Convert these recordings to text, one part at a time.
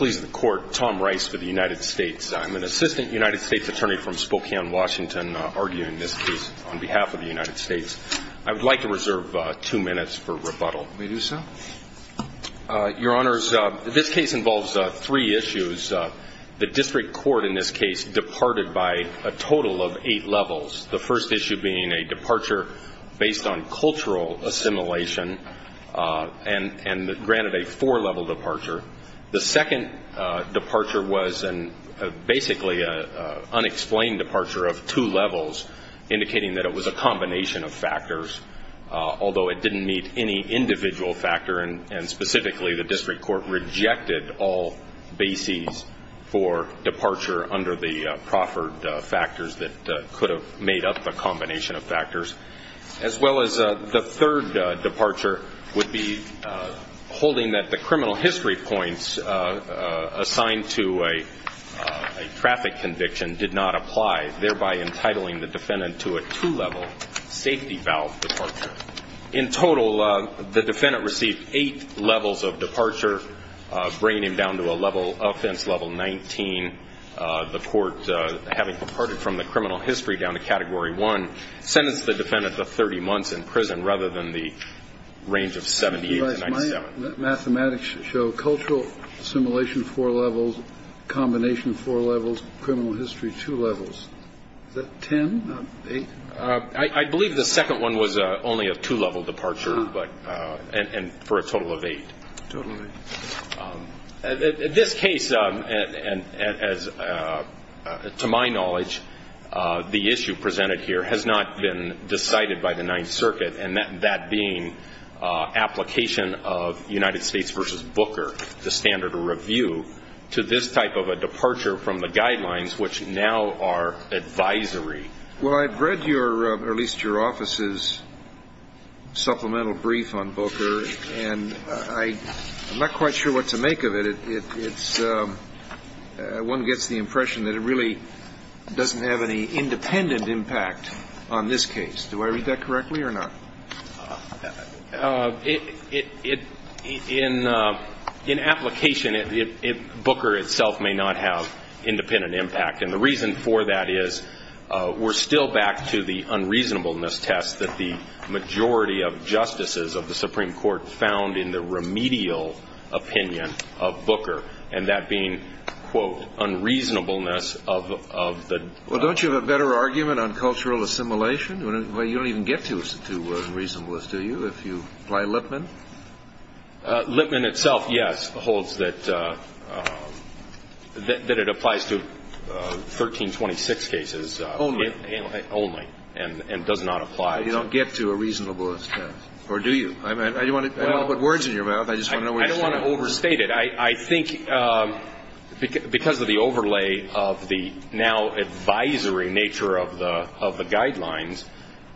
I'm an assistant United States attorney from Spokane, Washington, arguing this case on behalf of the United States. I would like to reserve two minutes for rebuttal. May I do so? Your Honors, this case involves three issues. The district court in this case departed by a total of eight levels, the first issue being a departure based on cultural assimilation and granted a four-level departure. The second departure was basically an unexplained departure of two levels, indicating that it was a combination of factors, although it didn't meet any individual factor. Specifically, the district court rejected all bases for departure under the proffered factors that could have made up the combination of factors. As well as the third departure would be holding that the criminal history points assigned to a traffic conviction did not apply, thereby entitling the defendant to a two-level safety valve departure. In total, the defendant received eight levels of departure, bringing him down to a level of offense, level 19. The court, having departed from the criminal history down to category one, sentenced the defendant to 30 months in prison rather than the range of 78 to 97. Mathematics show cultural assimilation, four levels, combination, four levels, criminal history, two levels. Is that ten, not eight? I believe the second one was only a two-level departure, and for a total of eight. Total of eight. This case, to my knowledge, the issue presented here has not been decided by the Ninth Circuit, and that being application of United States v. Booker, the standard review, to this type of a departure from the guidelines, which now are advisory. Well, I've read your, or at least your office's supplemental brief on Booker, and I'm not quite sure what to make of it. One gets the impression that it really doesn't have any independent impact on this case. Do I read that correctly or not? In application, Booker itself may not have independent impact, and the reason for that is we're still back to the unreasonableness test that the majority of justices of the Supreme Court found in the remedial opinion of Booker, and that being, quote, unreasonableness of the… Well, don't you have a better argument on cultural assimilation? You don't even get to reasonableness, do you, if you apply Lippman? Lippman itself, yes, holds that it applies to 1326 cases. Only? Only, and does not apply. You don't get to a reasonableness test, or do you? I don't want to put words in your mouth. I just want to know where you stand. I don't want to overstate it. I think because of the overlay of the now advisory nature of the guidelines,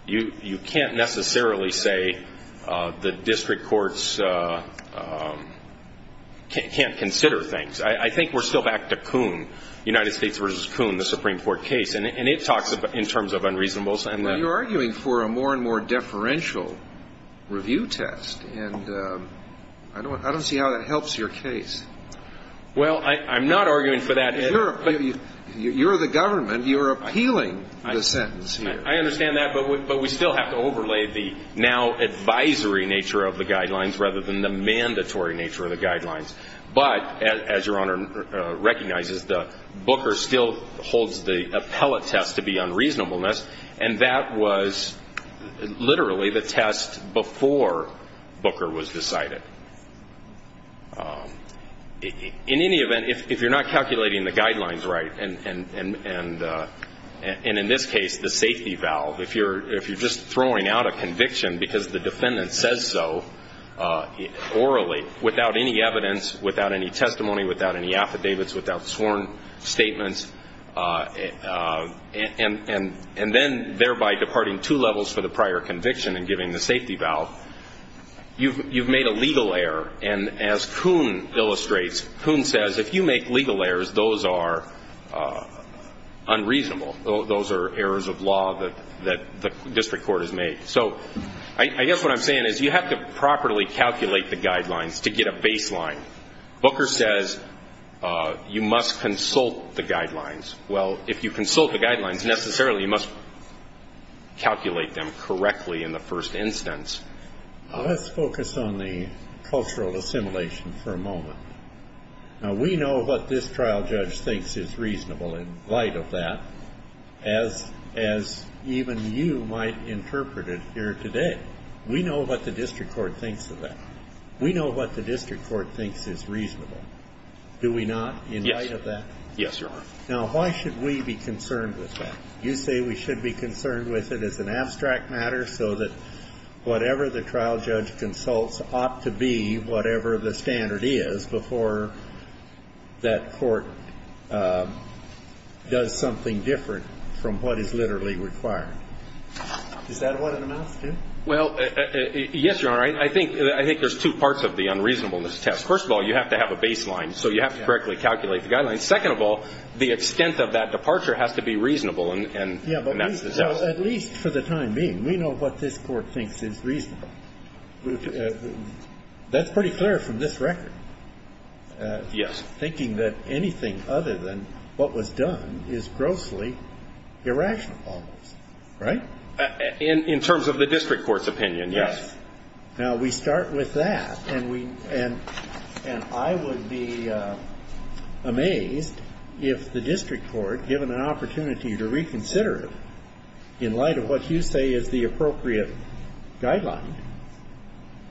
you can't necessarily say the district courts can't consider things. I think we're still back to Coon, United States v. Coon, the Supreme Court case, and it talks in terms of unreasonableness. Well, you're arguing for a more and more deferential review test, and I don't see how that helps your case. Well, I'm not arguing for that. You're the government. You're appealing the sentence here. I understand that, but we still have to overlay the now advisory nature of the guidelines rather than the mandatory nature of the guidelines. But, as Your Honor recognizes, Booker still holds the appellate test to be unreasonableness, and that was literally the test before Booker was decided. In any event, if you're not calculating the guidelines right, and in this case the safety valve, if you're just throwing out a conviction because the defendant says so orally without any evidence, without any testimony, without any affidavits, without sworn statements, and then thereby departing two levels for the prior conviction and giving the safety valve, you've made a legal error. And as Coon illustrates, Coon says if you make legal errors, those are unreasonable. Those are errors of law that the district court has made. So I guess what I'm saying is you have to properly calculate the guidelines to get a baseline. Booker says you must consult the guidelines. Well, if you consult the guidelines, necessarily you must calculate them correctly in the first instance. Let's focus on the cultural assimilation for a moment. Now, we know what this trial judge thinks is reasonable in light of that, as even you might interpret it here today. We know what the district court thinks of that. We know what the district court thinks is reasonable. Do we not in light of that? Yes, Your Honor. Now, why should we be concerned with that? You say we should be concerned with it as an abstract matter so that whatever the trial judge consults ought to be, whatever the standard is before that court does something different from what is literally required. Is that what it amounts to? Well, yes, Your Honor. I think there's two parts of the unreasonableness test. First of all, you have to have a baseline, so you have to correctly calculate the guidelines. Second of all, the extent of that departure has to be reasonable, and that's the test. At least for the time being, we know what this court thinks is reasonable. That's pretty clear from this record. Yes. Thinking that anything other than what was done is grossly irrational almost, right? In terms of the district court's opinion, yes. Now, we start with that, and we – and I would be amazed if the district court, given an opportunity to reconsider it in light of what you say is the appropriate guideline,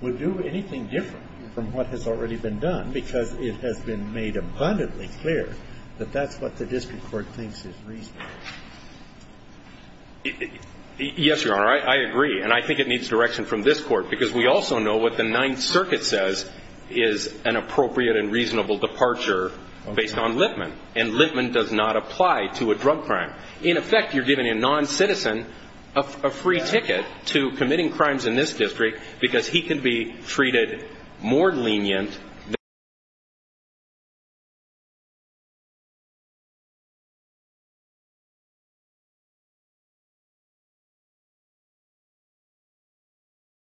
would do anything different from what has already been done, because it has been made abundantly clear that that's what the district court thinks is reasonable. Yes, Your Honor. I agree. And I think it needs direction from this court, because we also know what the Ninth Circuit says is an appropriate and reasonable departure based on Lippman, and Lippman does not apply to a drug crime. In effect, you're giving a non-citizen a free ticket to committing crimes in this district because he can be treated more lenient than a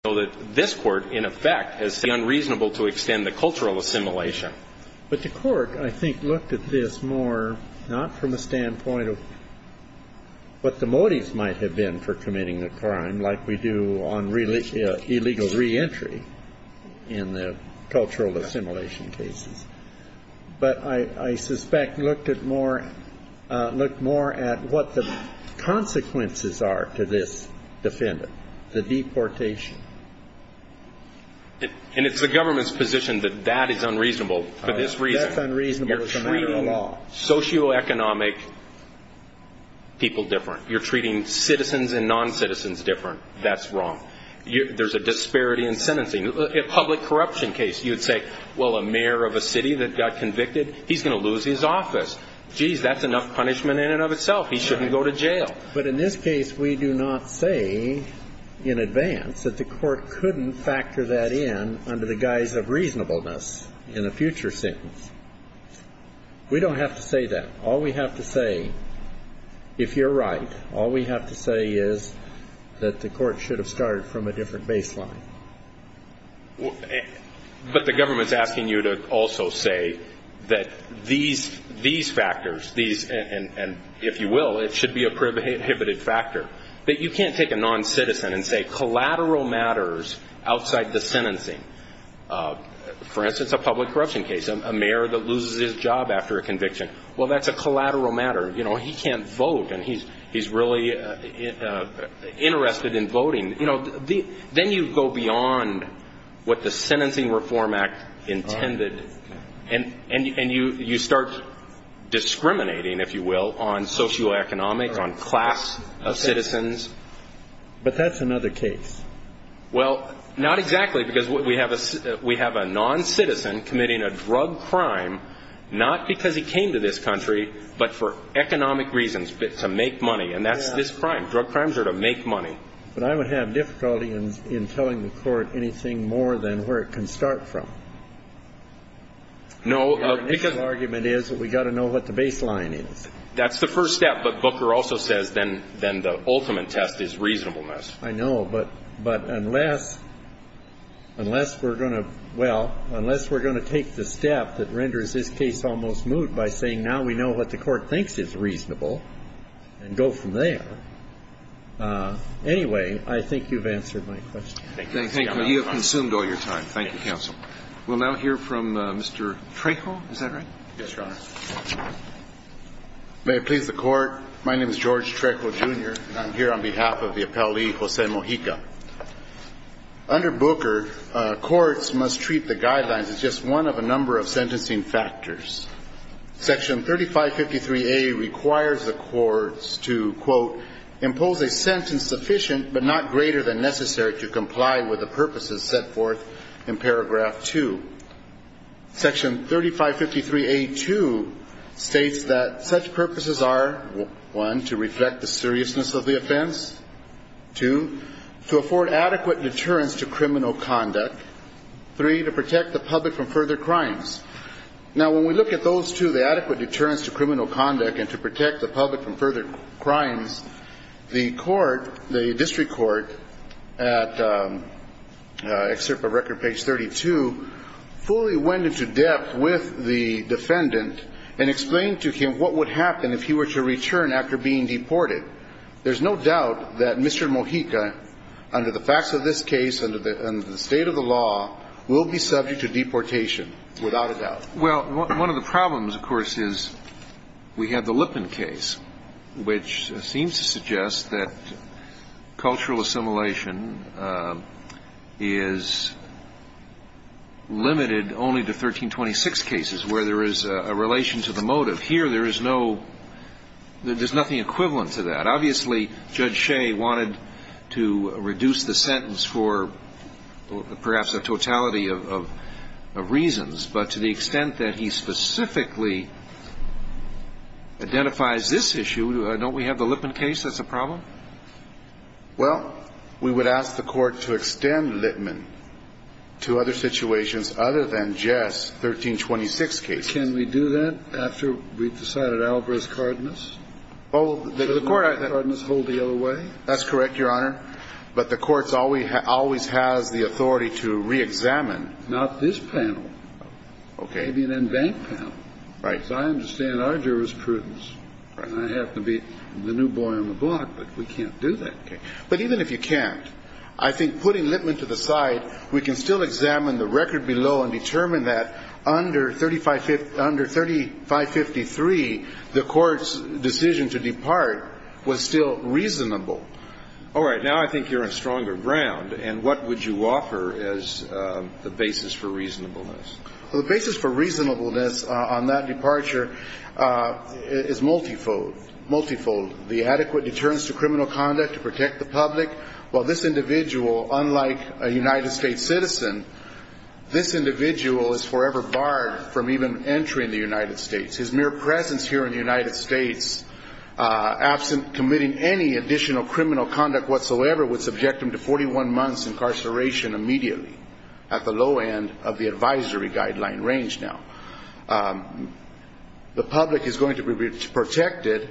non-citizen. So that this court, in effect, has said it's unreasonable to extend the cultural assimilation. But the court, I think, looked at this more not from a standpoint of what the motives might have been for committing the crime, like we do on illegal reentry in the cultural assimilation cases, but I suspect looked at more – looked more at what the consequences are to this defendant, the deportation. And it's the government's position that that is unreasonable for this reason. That's unreasonable as a matter of law. You're treating socioeconomic people different. You're treating citizens and non-citizens different. That's wrong. There's a disparity in sentencing. A public corruption case, you'd say, well, a mayor of a city that got convicted, he's going to lose his office. Geez, that's enough punishment in and of itself. He shouldn't go to jail. But in this case, we do not say in advance that the court couldn't factor that in under the guise of reasonableness in a future sentence. We don't have to say that. All we have to say, if you're right, all we have to say is that the court should have started from a different baseline. But the government's asking you to also say that these factors, these – and if you will, it should be a prohibited factor. But you can't take a non-citizen and say collateral matters outside the sentencing. For instance, a public corruption case, a mayor that loses his job after a conviction, well, that's a collateral matter. He can't vote and he's really interested in voting. Then you go beyond what the Sentencing Reform Act intended and you start discriminating, if you will, on socioeconomic, on class of citizens. But that's another case. Well, not exactly because we have a non-citizen committing a drug crime not because he came to this country but for economic reasons, to make money. And that's this crime. Drug crimes are to make money. But I would have difficulty in telling the court anything more than where it can start from. Your initial argument is that we've got to know what the baseline is. That's the first step. But Booker also says then the ultimate test is reasonableness. I know. But unless we're going to – well, unless we're going to take the step that renders this case almost moot by saying now we know what the Court thinks is reasonable and go from there, anyway, I think you've answered my question. Thank you. You have consumed all your time. Thank you, counsel. We'll now hear from Mr. Trejo. Is that right? Yes, Your Honor. May it please the Court. My name is George Trejo, Jr., and I'm here on behalf of the appellee, Jose Mojica. Under Booker, courts must treat the guidelines as just one of a number of sentencing factors. Section 3553A requires the courts to, quote, to comply with the purposes set forth in paragraph 2. Section 3553A.2 states that such purposes are, one, to reflect the seriousness of the offense, two, to afford adequate deterrence to criminal conduct, three, to protect the public from further crimes. Now, when we look at those two, the adequate deterrence to criminal conduct and to the extent to which the defendant is subject to deportation. I think it's important to note that Mr. Mojica's report at excerpt of record page 32 fully went into depth with the defendant and explained to him what would happen if he were to return after being deported. There's no doubt that Mr. Mojica, under the facts of this case, under the state of the law, will be subject to deportation, without a doubt. Well, one of the problems, of course, is we have the Lipman case, which seems to suggest that cultural assimilation is limited only to 1326 cases, where there is a relation to the motive. Here, there is no – there's nothing equivalent to that. Obviously, Judge Shea wanted to reduce the sentence for perhaps a totality of reasons, but to the extent that he specifically identifies this issue, don't we have the Lipman case that's a problem? Well, we would ask the Court to extend Lipman to other situations other than just 1326 cases. Can we do that after we've decided Alvarez-Cardenas? Oh, the Court – Does Alvarez-Cardenas hold the other way? That's correct, Your Honor, but the Court always has the authority to reexamine not this panel, maybe an in-bank panel. Right. So I understand our jurisprudence, and I have to be the new boy on the block, but we can't do that. But even if you can't, I think putting Lipman to the side, we can still examine the record below and determine that under 3553, the Court's decision to depart was still reasonable. All right. Now I think you're on stronger ground, and what would you offer as the basis for reasonableness? Well, the basis for reasonableness on that departure is multifold. Multifold. The adequate deterrence to criminal conduct to protect the public. Well, this individual, unlike a United States citizen, this individual is forever barred from even entering the United States. His mere presence here in the United States, absent committing any additional criminal conduct whatsoever, would subject him to 41 months incarceration immediately, at the low end of the advisory guideline range now. The public is going to be protected because he does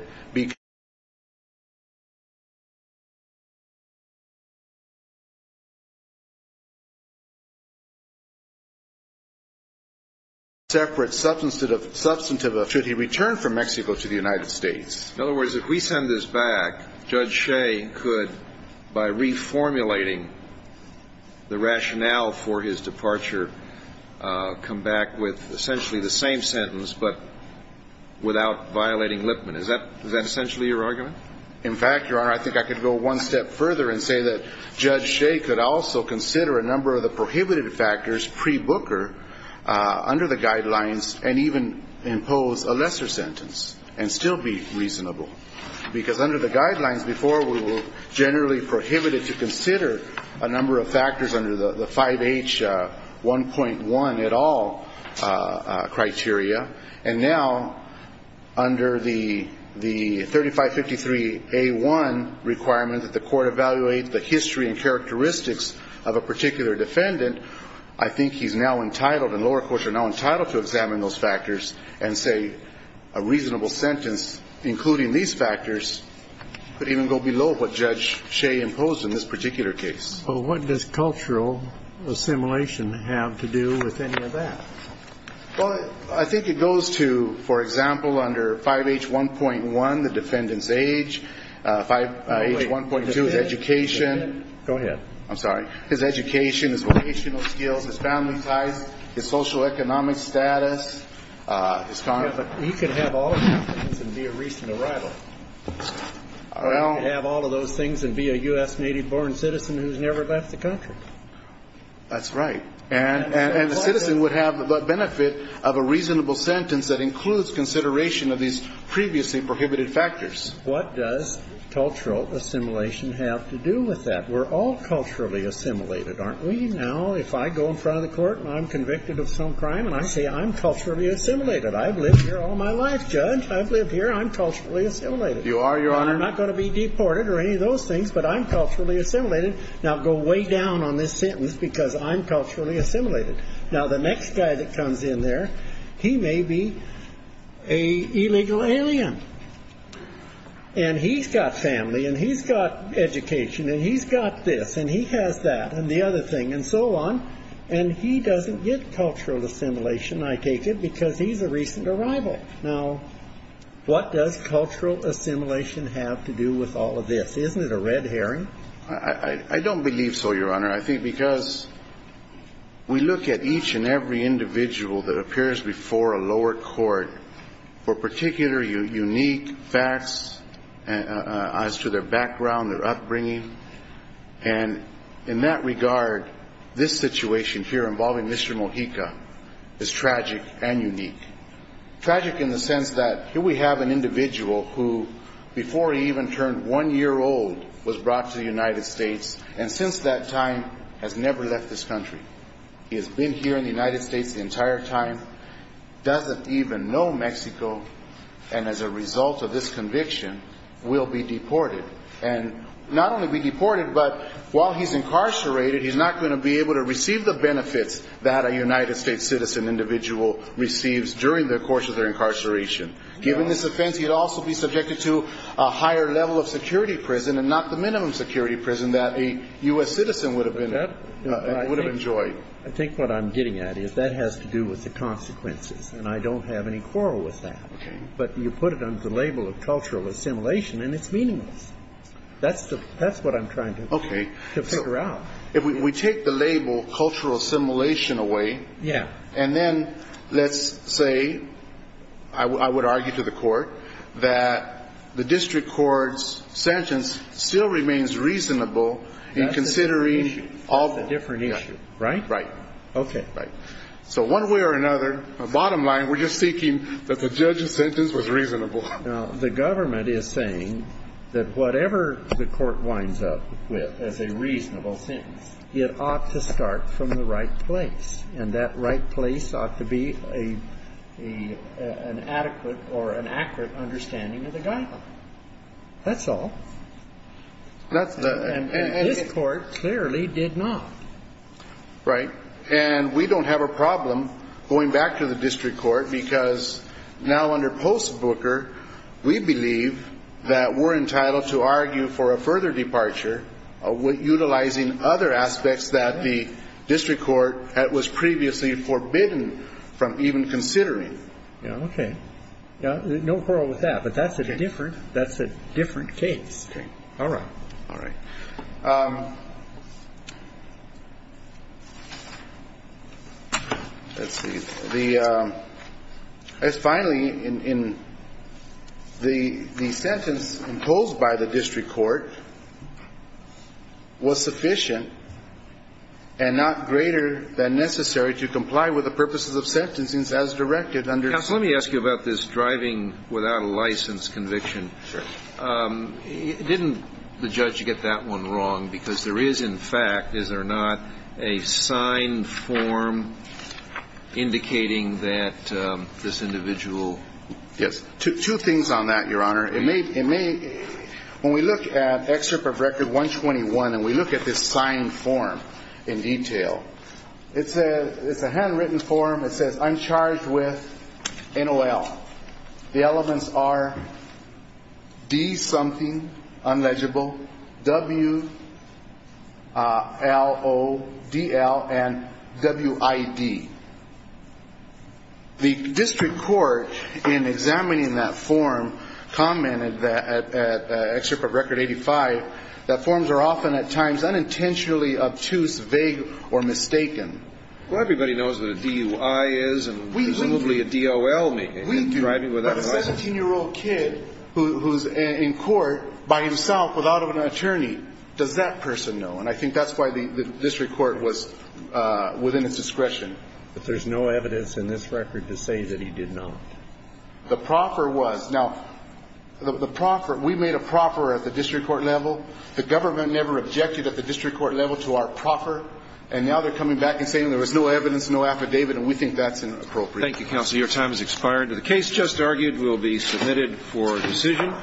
not have a separate substantive of should he return from Mexico to the United States. In other words, if we send this back, Judge Shea could, by reformulating the rationale for his departure, come back with essentially the same sentence but without violating Lipman. Is that essentially your argument? In fact, Your Honor, I think I could go one step further and say that Judge Shea could also consider a number of the prohibited factors pre-Booker under the guidelines and even impose a lesser sentence and still be reasonable. Because under the guidelines before, we were generally prohibited to consider a number of factors under the 5H 1.1 et al. criteria. And now, under the 3553A1 requirement that the court evaluate the history and characteristics of a particular defendant, I think he's now entitled, and lower courts are now entitled to examine those factors and say a reasonable sentence including these factors could even go below what Judge Shea imposed in this particular case. Well, what does cultural assimilation have to do with any of that? Well, I think it goes to, for example, under 5H 1.1, the defendant's age. 5H 1.2 is education. Go ahead. I'm sorry. His education, his vocational skills, his family ties, his socioeconomic status, his concerns. Yeah, but he could have all of those things and be a recent arrival. Well. He could have all of those things and be a U.S. native-born citizen who's never left the country. That's right. And the citizen would have the benefit of a reasonable sentence that includes consideration of these previously prohibited factors. What does cultural assimilation have to do with that? We're all culturally assimilated, aren't we? Now, if I go in front of the court and I'm convicted of some crime and I say I'm culturally assimilated, I've lived here all my life, Judge. I've lived here. I'm culturally assimilated. You are, Your Honor. I'm not going to be deported or any of those things, but I'm culturally assimilated. Now, go way down on this sentence because I'm culturally assimilated. Now, the next guy that comes in there, he may be an illegal alien. And he's got family and he's got education and he's got this and he has that and the other thing and so on, and he doesn't get cultural assimilation, I take it, because he's a recent arrival. Now, what does cultural assimilation have to do with all of this? Isn't it a red herring? I don't believe so, Your Honor. I think because we look at each and every individual that appears before a lower court for particular unique facts as to their background, their upbringing, and in that regard, this situation here involving Mr. Mojica is tragic and unique. Tragic in the sense that here we have an individual who, before he even turned one-year-old, was brought to the United States and since that time has never left this country. He has been here in the United States the entire time, doesn't even know Mexico, and as a result of this conviction, will be deported. And not only be deported, but while he's incarcerated, he's not going to be able to receive the benefits that a United States citizen individual receives during the course of their incarceration. Given this offense, he'd also be subjected to a higher level of security prison and not the minimum security prison that a U.S. citizen would have enjoyed. I think what I'm getting at is that has to do with the consequences, and I don't have any quarrel with that. Okay. But you put it under the label of cultural assimilation, and it's meaningless. That's what I'm trying to figure out. Okay. If we take the label cultural assimilation away. Yeah. And then let's say I would argue to the court that the district court's sentence still remains reasonable in considering all the different issues. That's a different issue. Right? Right. Okay. Right. So one way or another, bottom line, we're just seeking that the judge's sentence was reasonable. Now, the government is saying that whatever the court winds up with as a reasonable sentence, it ought to start from the right place. And that right place ought to be an adequate or an accurate understanding of the guideline. That's all. And this court clearly did not. Right. And we don't have a problem going back to the district court because now under post-Booker, we believe that we're entitled to argue for a further departure utilizing other aspects that the district court was previously forbidden from even considering. Yeah. Okay. No quarrel with that. But that's a different case. Okay. All right. All right. Let's see. The sentence imposed by the district court was sufficient and not greater than necessary to comply with the purposes of sentencing as directed under the statute. Counsel, let me ask you about this driving without a license conviction. Sure. Didn't the judge get that one wrong because there is in fact, is there not, a signed form indicating that this individual? Yes. Two things on that, Your Honor. It may, when we look at excerpt of record 121 and we look at this signed form in detail, it says, it's a handwritten form. It says, I'm charged with NOL. The elements are D something, unlegible, W, L, O, DL, and WID. The district court in examining that form commented that, at excerpt of record 85, that forms are often at times unintentionally obtuse, vague, or mistaken. Well, everybody knows what a DUI is and presumably a DOL. But a 17-year-old kid who's in court by himself without an attorney, does that person know? And I think that's why the district court was within its discretion. But there's no evidence in this record to say that he did not. The proffer was. Now, the proffer, we made a proffer at the district court level. The government never objected at the district court level to our proffer. And now they're coming back and saying there was no evidence, no affidavit. And we think that's inappropriate. Thank you, counsel. Your time has expired. The case just argued will be submitted for decision.